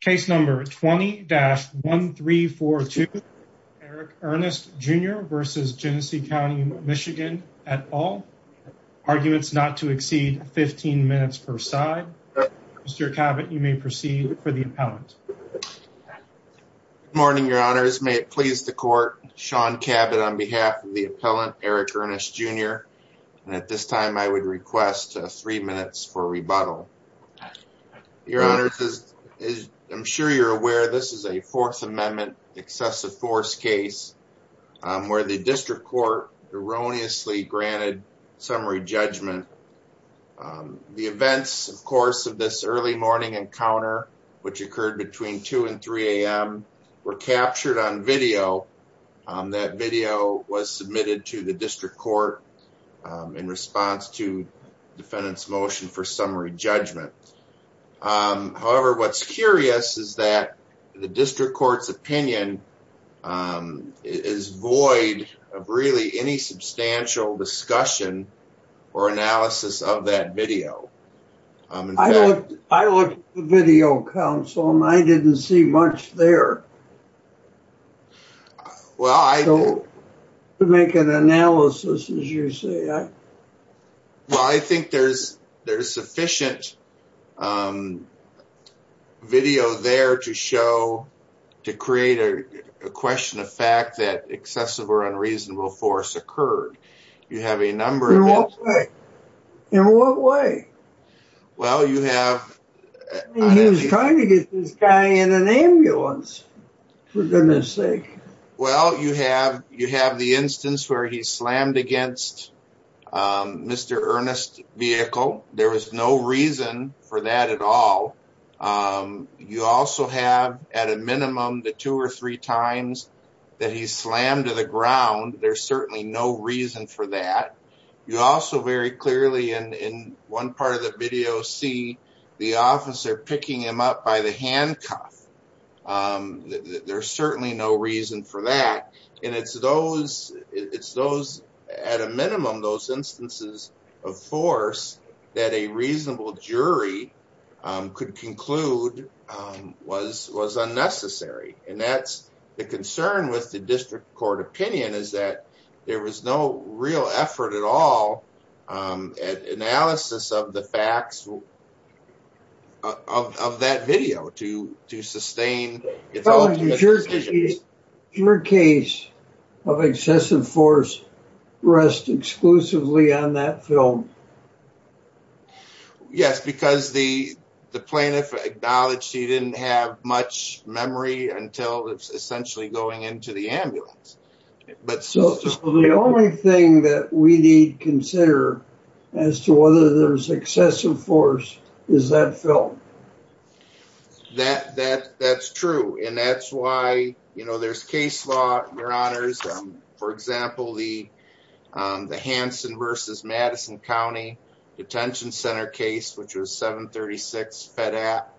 Case number 20-1342 Eric Earnest Jr v. Genesee County MI at all. Arguments not to exceed 15 minutes per side. Mr. Cabot, you may proceed for the appellant. Good morning, your honors. May it please the court, Sean Cabot on behalf of the appellant Eric Earnest Jr. And at this time I would request three minutes for rebuttal. Your honors, as I'm sure you're aware, this is a Fourth Amendment excessive force case where the district court erroneously granted summary judgment. The events, of course, of this early morning encounter, which occurred between 2 and 3 a.m., were captured on video. That video was submitted to the district court in response to defendant's motion for summary judgment. However, what's curious is that the district court's opinion is void of really any substantial discussion or analysis of that video. I looked at the video, counsel, and I didn't see much there to make an analysis, as you say. Well, I think there's sufficient video there to show, to create a question of fact that excessive or unreasonable force occurred. You have a number of instances. In what way? Well, you have... He was trying to get this guy in an ambulance, for goodness sake. Well, you have the instance where he slammed against Mr. Earnest's vehicle. There was no reason for that at all. You also have at a minimum the two or three times that he slammed to the ground. There's certainly no reason for that. You also very clearly in one part of the video see the officer picking him up by the handcuff. There's certainly no reason for that. And it's those, at a minimum, those instances of force that a reasonable jury could conclude was unnecessary. And that's the concern with the district court opinion is that there was no real effort at all at analysis of the facts of that video to sustain... Your case of excessive force rests exclusively on that film. Yes, because the plaintiff acknowledged he didn't have much memory until essentially going into the ambulance. So the only thing that we need to consider as to whether there was excessive force is that film. That's true. And that's why there's case law, your honors. For example, the Hanson v. Madison County Detention Center case, which was 736 Fed Act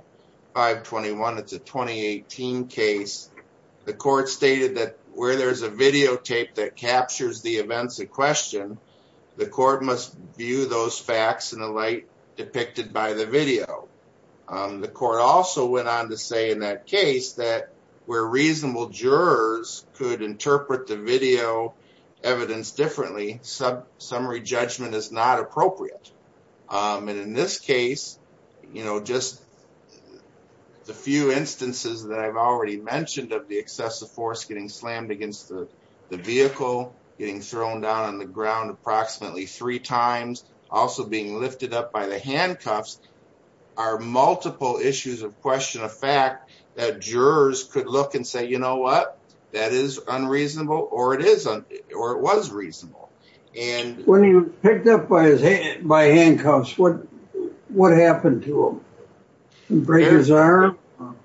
521, it's a 2018 case. The court stated that where there's a videotape that captures the events in question, the court must view those facts in the light depicted by the video. The court also went on to say in that case that where reasonable jurors could interpret the video evidence differently, summary judgment is not appropriate. And in this case, just the few instances that I've already mentioned of the excessive force getting slammed against the vehicle, getting thrown down on the ground approximately three times, also being lifted up by the handcuffs, are multiple issues of question of fact that jurors could look and say, you know what, that is unreasonable, or it isn't, or it was reasonable. When he was picked up by handcuffs, what happened to him? Break his arm?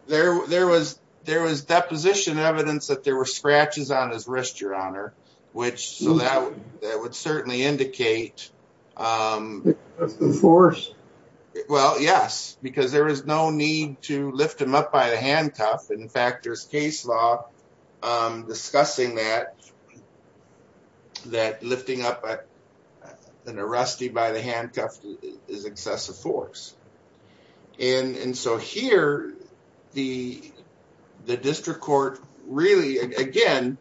There was deposition evidence that there were scratches on his wrist, your honor, which would certainly indicate... The force? Well, yes, because there was no need to lift him up by the handcuff. In fact, there's case law discussing that, that lifting up an arrestee by the handcuff is excessive force. And so here, the district court really, again,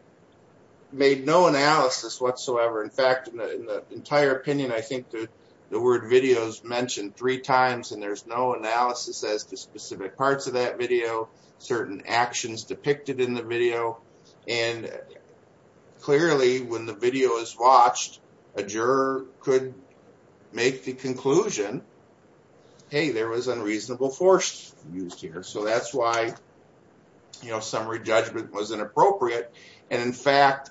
made no analysis whatsoever. In fact, in the entire opinion, I think the word videos mentioned three times, and there's no analysis as to specific parts of that video, certain actions depicted in the video. And clearly when the video is watched, a juror could make the conclusion, hey, there was unreasonable force used here. So that's why summary judgment was inappropriate. And in fact,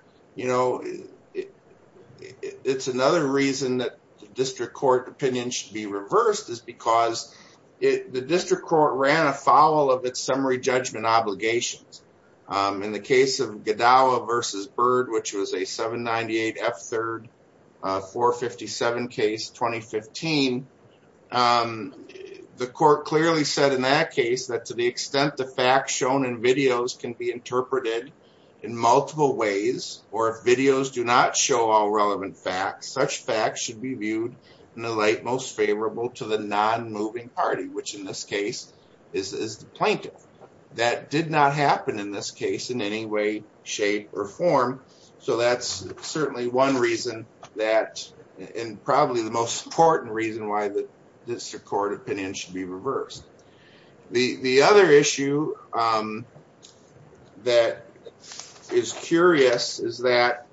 it's another reason that the district court opinion should be reversed, is because the district court ran afoul of its summary judgment obligations. In the case of Gadawa versus Bird, which was a 798 F3rd 457 case, 2015, the court clearly said in that case that to the extent the facts shown in videos can be interpreted in multiple ways, or if videos do not show all relevant facts, such facts should be viewed in the light most favorable to the non-moving party, which in this case is the plaintiff. That did not happen in this case in any way, shape, or form. So that's certainly one reason that, and probably the most important reason why the district court opinion should be reversed. The other issue that is curious is that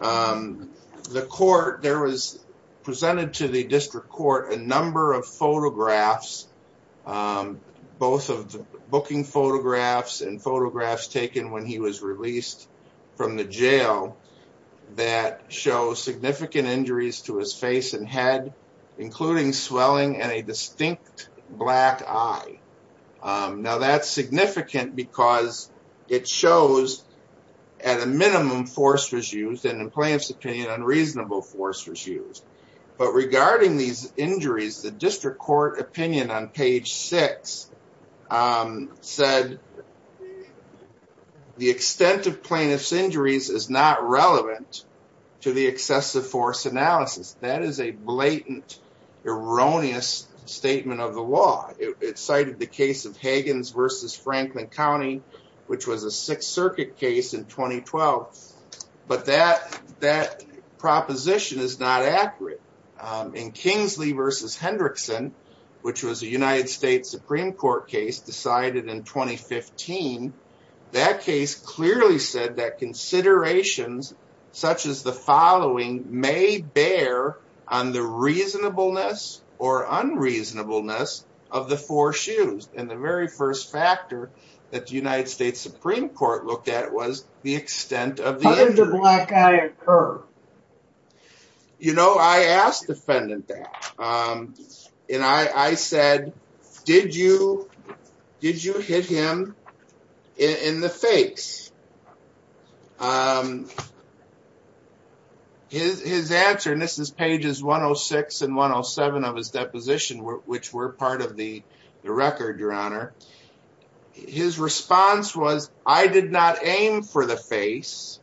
the court, there was presented to the district court a number of photographs, both of the booking photographs and photographs taken when he was released from the jail that show significant injuries to his face and head, including swelling and a distinct black eye. Now that's significant because it shows at a minimum force was used and in plaintiff's opinion, unreasonable force was used. But regarding these injuries, the district court opinion on page six said the extent of plaintiff's injuries is not relevant to the excessive force analysis. That is a blatant, erroneous statement of the law. It cited the case of Higgins versus Franklin County, which was a Sixth Circuit case in 2012. But that proposition is not accurate. In Kingsley versus Hendrickson, which was a United States Supreme Court case decided in 2015, that case clearly said that considerations such as the following may bear on the reasonableness or unreasonableness of the four shoes. And the very first factor that the United States Supreme Court looked at was the I said, did you hit him in the face? His answer, and this is pages 106 and 107 of his deposition, which were part of the record, your honor. His response was, I did not aim for the face.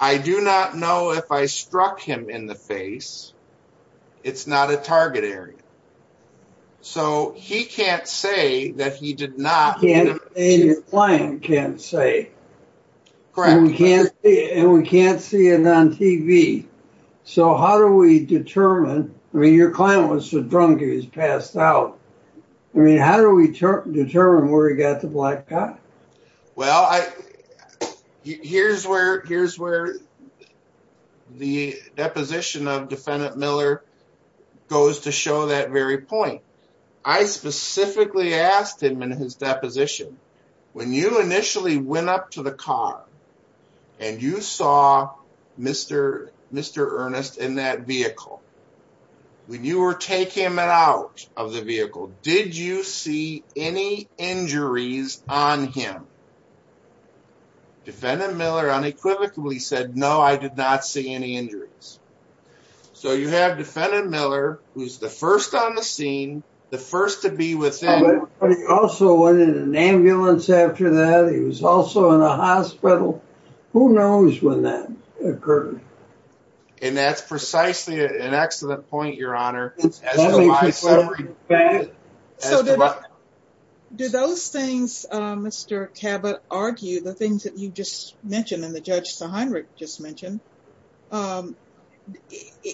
I do not know if I struck him in the face. It's not a target area. So he can't say that he did not hit him. And your client can't say. Correct. And we can't see it on TV. So how do we determine, I mean, your client was so drunk he was passed out. I mean, how do we determine where he got the blackout? Well, here's where the deposition of defendant Miller goes to show that very point. I specifically asked him in his deposition, when you initially went up to the car and you saw Mr. Earnest in that vehicle, when you were taking him out of the vehicle, did you see any injuries on him? Defendant Miller unequivocally said, no, I did not see any injuries. So you have defendant Miller, who's the first on the scene, the first to be within. But he also went in an ambulance after that. He was also in a hospital. Who knows when that occurred? And that's precisely an excellent point, Your Honor. Do those things, Mr. Cabot, argue, the things that you just mentioned and the Judge Seheinrich just mentioned,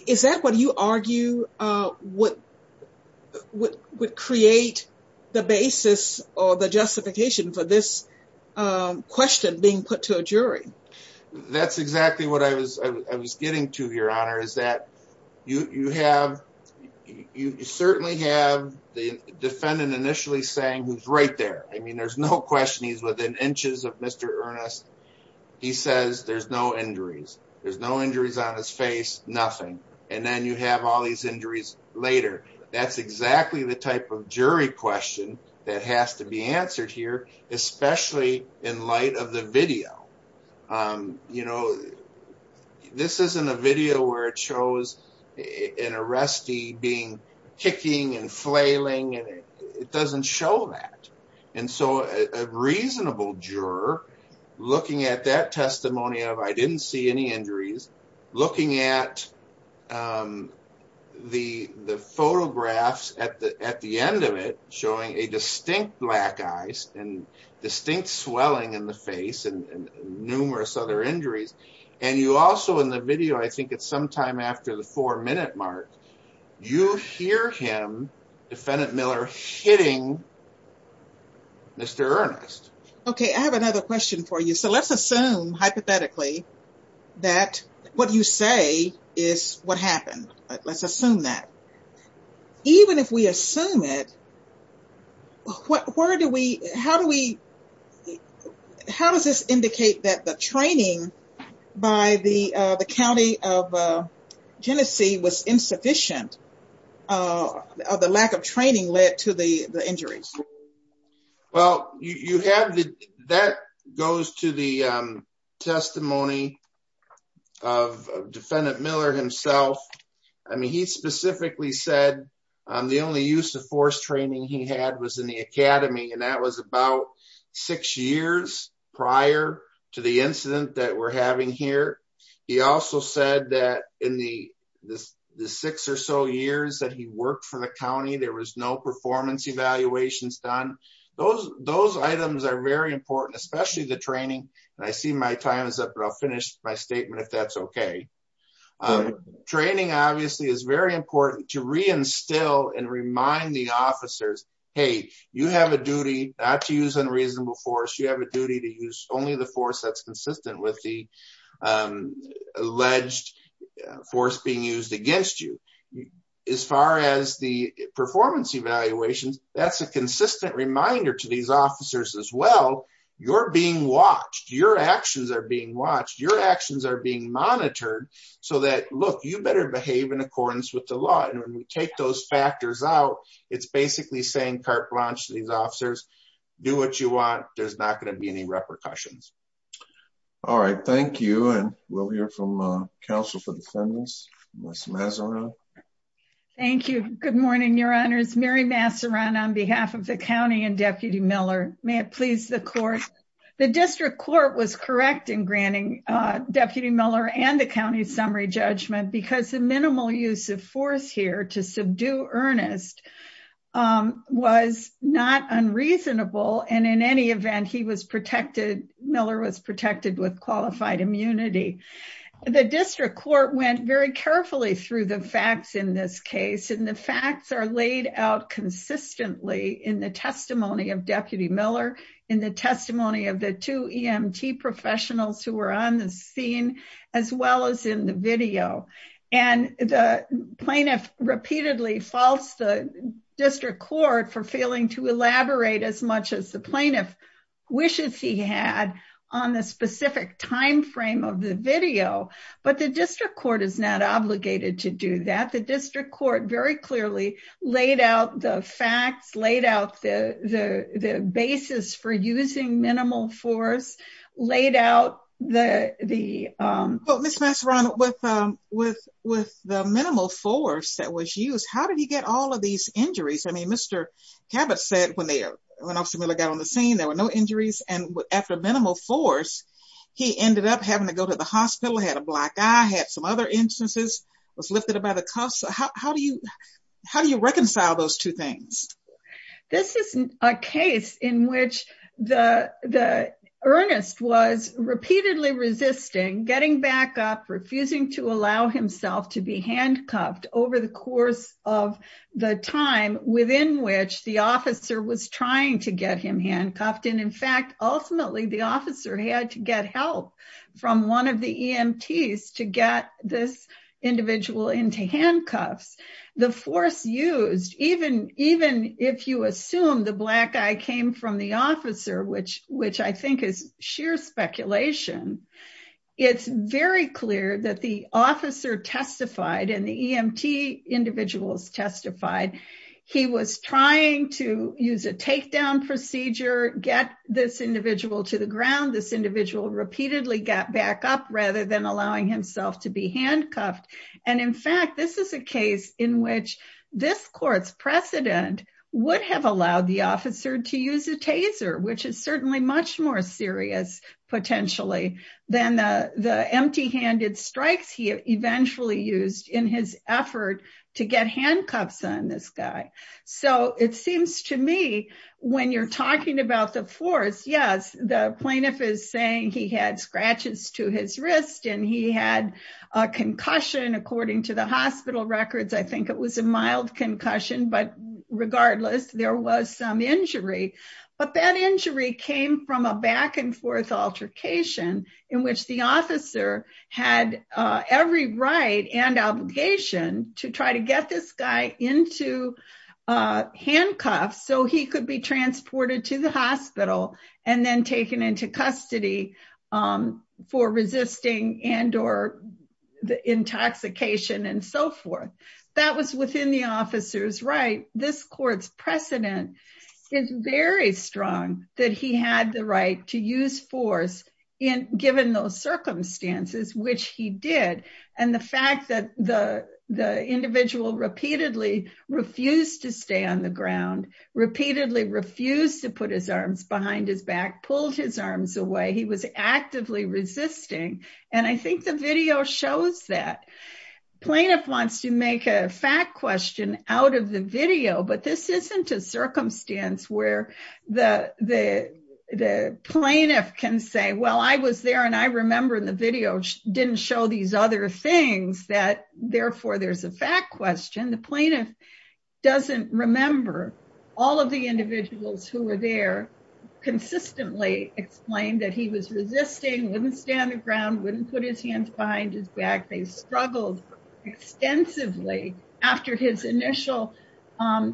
is that what you argue would create the basis or the justification for this question being put to a jury? That's exactly what I was getting to, Your Honor, is that you certainly have the defendant initially saying who's right there. I mean, there's no question he's within inches of Mr. Earnest. He says there's no injuries. There's no injuries on his face, nothing. And then you have all these injuries later. That's in light of the video. You know, this isn't a video where it shows an arrestee being kicking and flailing. It doesn't show that. And so a reasonable juror looking at that testimony of, I didn't see any injuries, looking at the photographs at the end of it showing a distinct black eyes and distinct swelling in the face and numerous other injuries. And you also, in the video, I think it's sometime after the four-minute mark, you hear him, Defendant Miller, hitting Mr. Earnest. Okay. I have another question for you. So let's assume hypothetically that what you say is what happened. Let's assume that. Even if we assume it, where do we, how do we, how does this indicate that the training by the county of Genesee was insufficient? The lack of training led to the injuries? Well, you have the, that goes to the testimony of Defendant Miller himself. I mean, he specifically said the only use of force training he had was in the academy. And that was about six years prior to the incident that we're having here. He also said that in the six or so years that he worked for the county, there was no performance evaluations done. Those items are very important, especially the training. And I see my time is up, but I'll finish my statement if that's okay. Um, training obviously is very important to re-instill and remind the officers, hey, you have a duty not to use unreasonable force. You have a duty to use only the force that's consistent with the alleged force being used against you. As far as the performance evaluations, that's a consistent reminder to these officers as well. You're being watched. Your actions are being watched. Your actions are being monitored so that, look, you better behave in accordance with the law. And when we take those factors out, it's basically saying carte blanche to these officers, do what you want. There's not going to be any repercussions. All right. Thank you. And we'll hear from a counsel for defendants, Ms. Masseron. Thank you. Good morning, your honors. Mary Masseron on behalf of the county and Deputy Miller. May it please the court. The district court was correct in granting Deputy Miller and the county summary judgment because the minimal use of force here to subdue earnest was not unreasonable. And in any event, he was protected. Miller was protected with qualified immunity. The district court went very carefully through the facts in this case, and the facts are laid out consistently in the testimony of Deputy Miller, in the testimony of the two EMT professionals who were on the scene, as well as in the video. And the plaintiff repeatedly false the district court for failing to elaborate as much as the plaintiff wishes he had on the specific time frame of the video. But the district court is not obligated to do that. The district court very the facts laid out the basis for using minimal force, laid out the... Well, Ms. Masseron, with the minimal force that was used, how did he get all of these injuries? I mean, Mr. Cabot said when Officer Miller got on the scene, there were no injuries. And after minimal force, he ended up having to go to the hospital, had a black eye, had some other instances, was lifted up by the cuffs. How do you reconcile those two things? This is a case in which the earnest was repeatedly resisting, getting back up, refusing to allow himself to be handcuffed over the course of the time within which the officer was trying to get him handcuffed. And in fact, ultimately, the officer had to get help from one of the EMTs to get this individual into handcuffs. The force used, even if you assume the black eye came from the officer, which I think is sheer speculation, it's very clear that the officer testified and the EMT individuals testified. He was trying to use a takedown procedure, get this individual to the ground. This individual repeatedly got back up rather than allowing himself to be handcuffed. And in fact, this is a case in which this court's precedent would have allowed the officer to use a taser, which is certainly much more serious, potentially, than the empty-handed strikes he eventually used in his effort to get handcuffs on this guy. So it seems to me, when you're talking about the force, yes, the plaintiff is saying he had scratches to his wrist and he had a concussion. According to the hospital records, I think it was a mild concussion, but regardless, there was some right and obligation to try to get this guy into handcuffs so he could be transported to the hospital and then taken into custody for resisting and or the intoxication and so forth. That was within the officer's right. This court's precedent is very strong that he had the right to use force given those circumstances, which he did. And the fact that the individual repeatedly refused to stay on the ground, repeatedly refused to put his arms behind his back, pulled his arms away, he was actively resisting. And I think the video shows that. Plaintiff wants to make a fact question out of the video, but this isn't a circumstance where the plaintiff can say, well, I was there and I remember in the video didn't show these other things, that therefore there's a fact question. The plaintiff doesn't remember. All of the individuals who were there consistently explained that he was resisting, wouldn't stand the ground, wouldn't put his hands behind his back. They struggled extensively after his initial,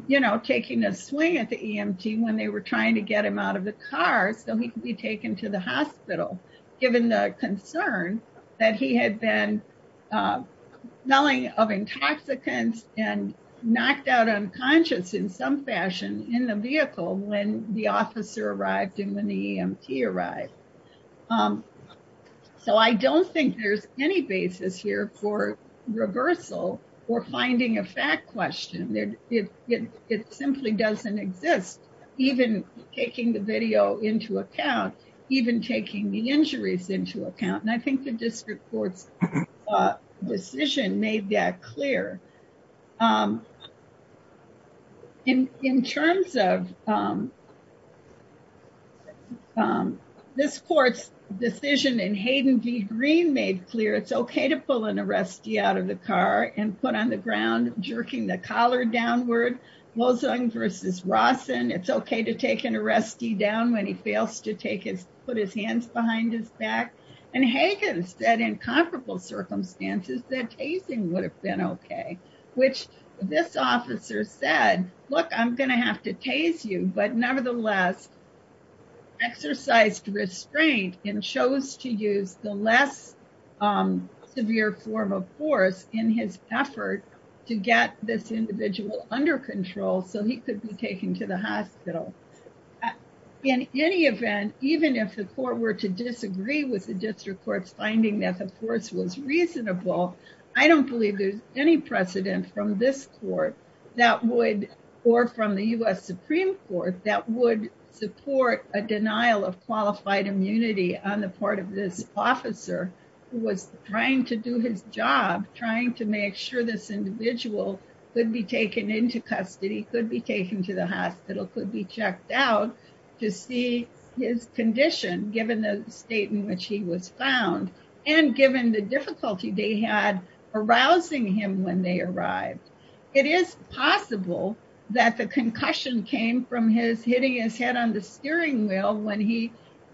you know, taking a swing at the EMT when they were trying to get him out of the car so he could be taken to the hospital, given the concern that he had been smelling of intoxicants and knocked out unconscious in some fashion in the vehicle when the officer arrived and when the EMT arrived. So I don't think there's any basis here for reversal or finding a fact question. It simply doesn't exist, even taking the video into account, even taking the injuries into account. And I think the district court's decision made that clear. In terms of this court's decision and Hayden V. Green made clear, it's okay to pull an arrestee out of the car and put on the ground, jerking the collar downward, Wozung versus Rawson. It's okay to take an arrestee down when he fails to take his, put his hands behind his back. And Hayden said in comparable circumstances that tasing would have been okay, which this officer said, look, I'm going to have to tase you, but nevertheless exercised restraint and chose to use the less severe form of force in his effort to get this individual under control so he could be taken to the hospital. In any event, even if the court were to disagree with the district court's finding that the force was reasonable, I don't believe there's any precedent from this court that would, or from the U.S. Supreme Court, that would support a denial of qualified immunity on the part of this officer who was trying to do his job, trying to make sure this individual could be taken into custody, could be taken to the hospital, could be checked out to see his condition given the state in which he was found and given the difficulty they had arousing him when they arrived. It is possible that the concussion came from his hitting his head on the steering wheel when he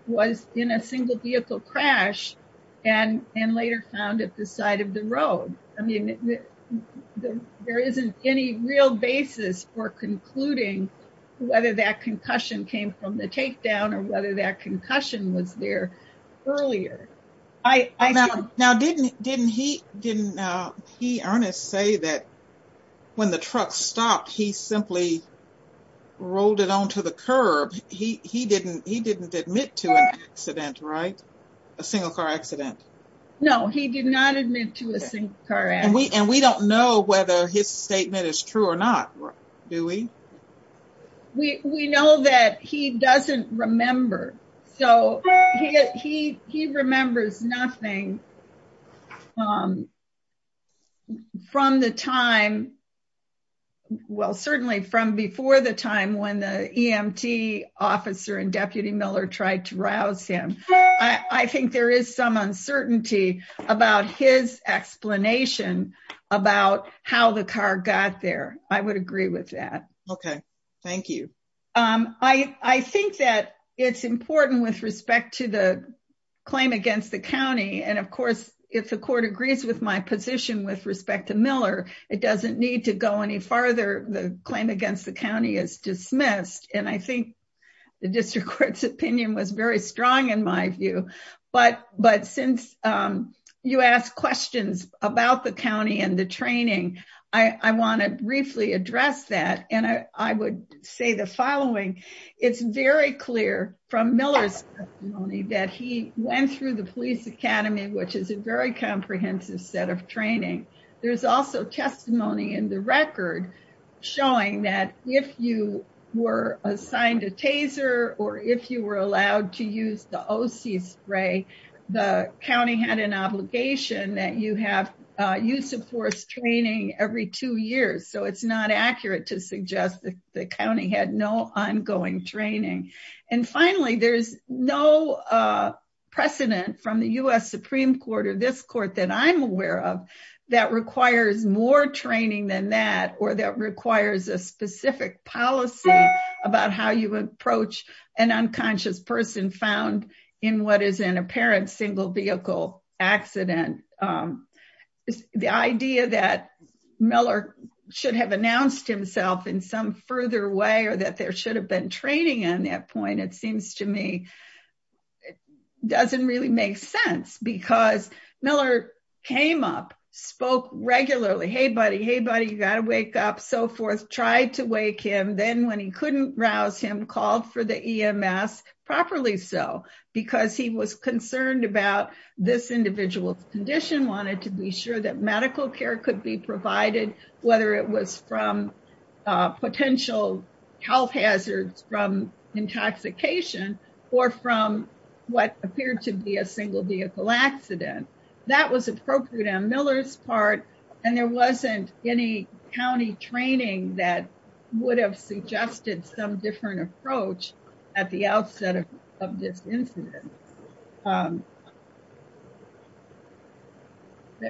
was in a single vehicle crash and later found at the side of the road. I mean, there isn't any real basis for concluding whether that concussion came from the takedown or whether that concussion was there earlier. Now, didn't he, didn't he honestly say that when the truck stopped he simply rolled it onto the curb? He didn't admit to an accident, right? A single car accident. No, he did not admit to a single car accident. And we don't know whether his statement is true or not. Do we? We know that he doesn't remember. So he remembers nothing from the time, well certainly from before the time when the EMT officer and Deputy Miller tried to rouse him. I think there is some uncertainty about his explanation about how the car got there. I agree with that. Okay. Thank you. I think that it's important with respect to the claim against the county. And of course, if the court agrees with my position with respect to Miller, it doesn't need to go any farther. The claim against the county is dismissed. And I think the district court's opinion was very strong in my view. But since you asked questions about the and I would say the following. It's very clear from Miller's testimony that he went through the police academy, which is a very comprehensive set of training. There's also testimony in the record showing that if you were assigned a taser or if you were allowed to use the OC spray, the county had an obligation that you have a use of force training every two years. So it's not accurate to suggest that the county had no ongoing training. And finally, there's no precedent from the US Supreme Court or this court that I'm aware of, that requires more training than that, or that requires a specific policy about how you approach an Miller should have announced himself in some further way, or that there should have been training. And at that point, it seems to me, it doesn't really make sense, because Miller came up, spoke regularly, hey, buddy, hey, buddy, you got to wake up, so forth, tried to wake him, then when he couldn't rouse him called for the EMS properly. So because he was concerned about this individual's condition, wanted to be sure that medical care could be provided, whether it was from potential health hazards, from intoxication, or from what appeared to be a single vehicle accident. That was appropriate on Miller's part. And there wasn't any county training that would have suggested some different approach at the outset of this incident.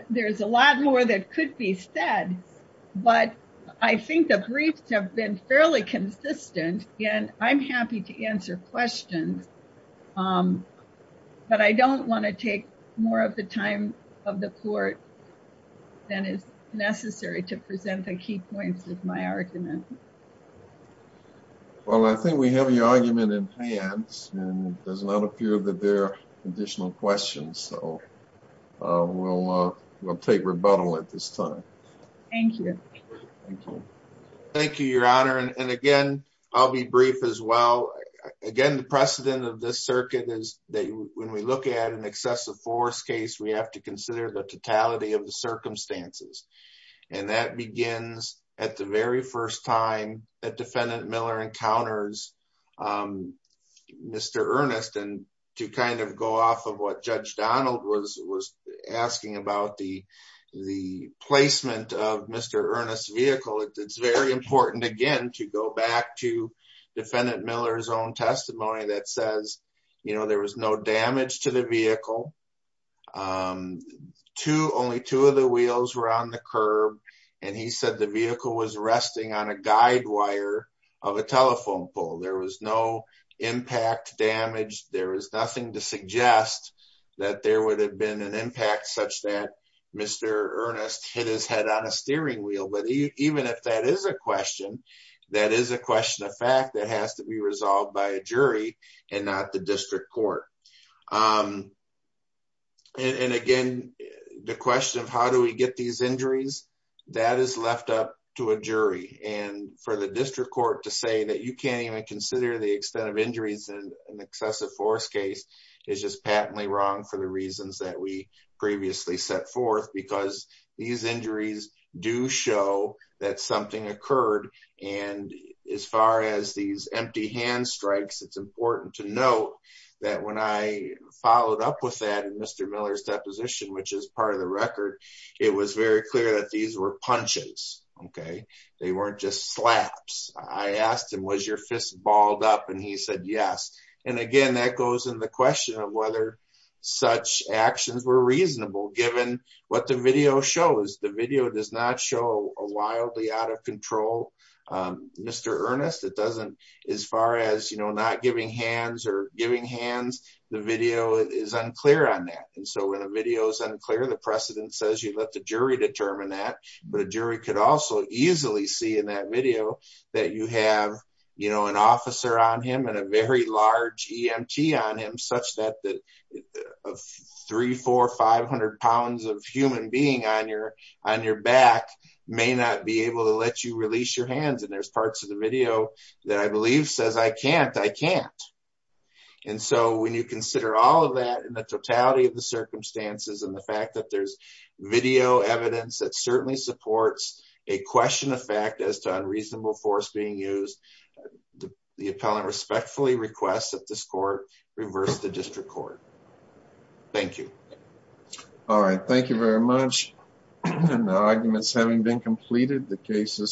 There's a lot more that could be said, but I think the briefs have been fairly consistent, and I'm happy to answer questions. But I don't want to take more of the time of the court than is necessary to present the key points of my argument. Well, I think we have your argument in hand, and it does not appear that there are additional questions. So we'll take rebuttal at this time. Thank you. Thank you, Your Honor. And again, I'll be brief as well. Again, the precedent of this circuit is that when we look at an excessive force case, we have to consider the totality of the circumstances. And that begins at the very first time that Defendant Miller encounters Mr. Ernest, and to kind of go off of what Judge Donald was asking about the placement of Mr. Ernest's vehicle, it's very important, again, to go back to Defendant Miller's own testimony that says, you know, there was no damage to the vehicle. Only two of the wheels were on the curb, and he said the vehicle was resting on a guide wire of a telephone pole. There was no impact damage. There was nothing to suggest that there would have been an impact such that Mr. Ernest hit his head on a steering wheel. But even if that is a question, that is a question of fact that has to be resolved by a jury and not the district court. And again, the question of how do we get these injuries, that is left up to a jury. And for the district court to say that you can't even consider the extent of injuries in an excessive force case is just patently wrong for the reasons that we previously set forth, because these injuries do show that something occurred. And as far as these empty hand strikes, it's important to note that when I followed up with that in Mr. Miller's deposition, which is part of the record, it was very clear that these were balled up and he said yes. And again, that goes in the question of whether such actions were reasonable, given what the video shows. The video does not show a wildly out of control Mr. Ernest. It doesn't, as far as, you know, not giving hands or giving hands, the video is unclear on that. And so when a video is unclear, the precedent says you let the jury determine that, but a jury could also easily see in that video that you have, you know, an officer on him and a very large EMT on him, such that three, four, 500 pounds of human being on your back may not be able to let you release your hands. And there's parts of the video that I believe says, I can't, I can't. And so when you consider all of that and the totality of the circumstances and the fact that there's video evidence that certainly supports a question of fact as to unreasonable force being used, the appellant respectfully requests that this court reverse the district court. Thank you. All right. Thank you very much. And the arguments having been completed, the case is submitted.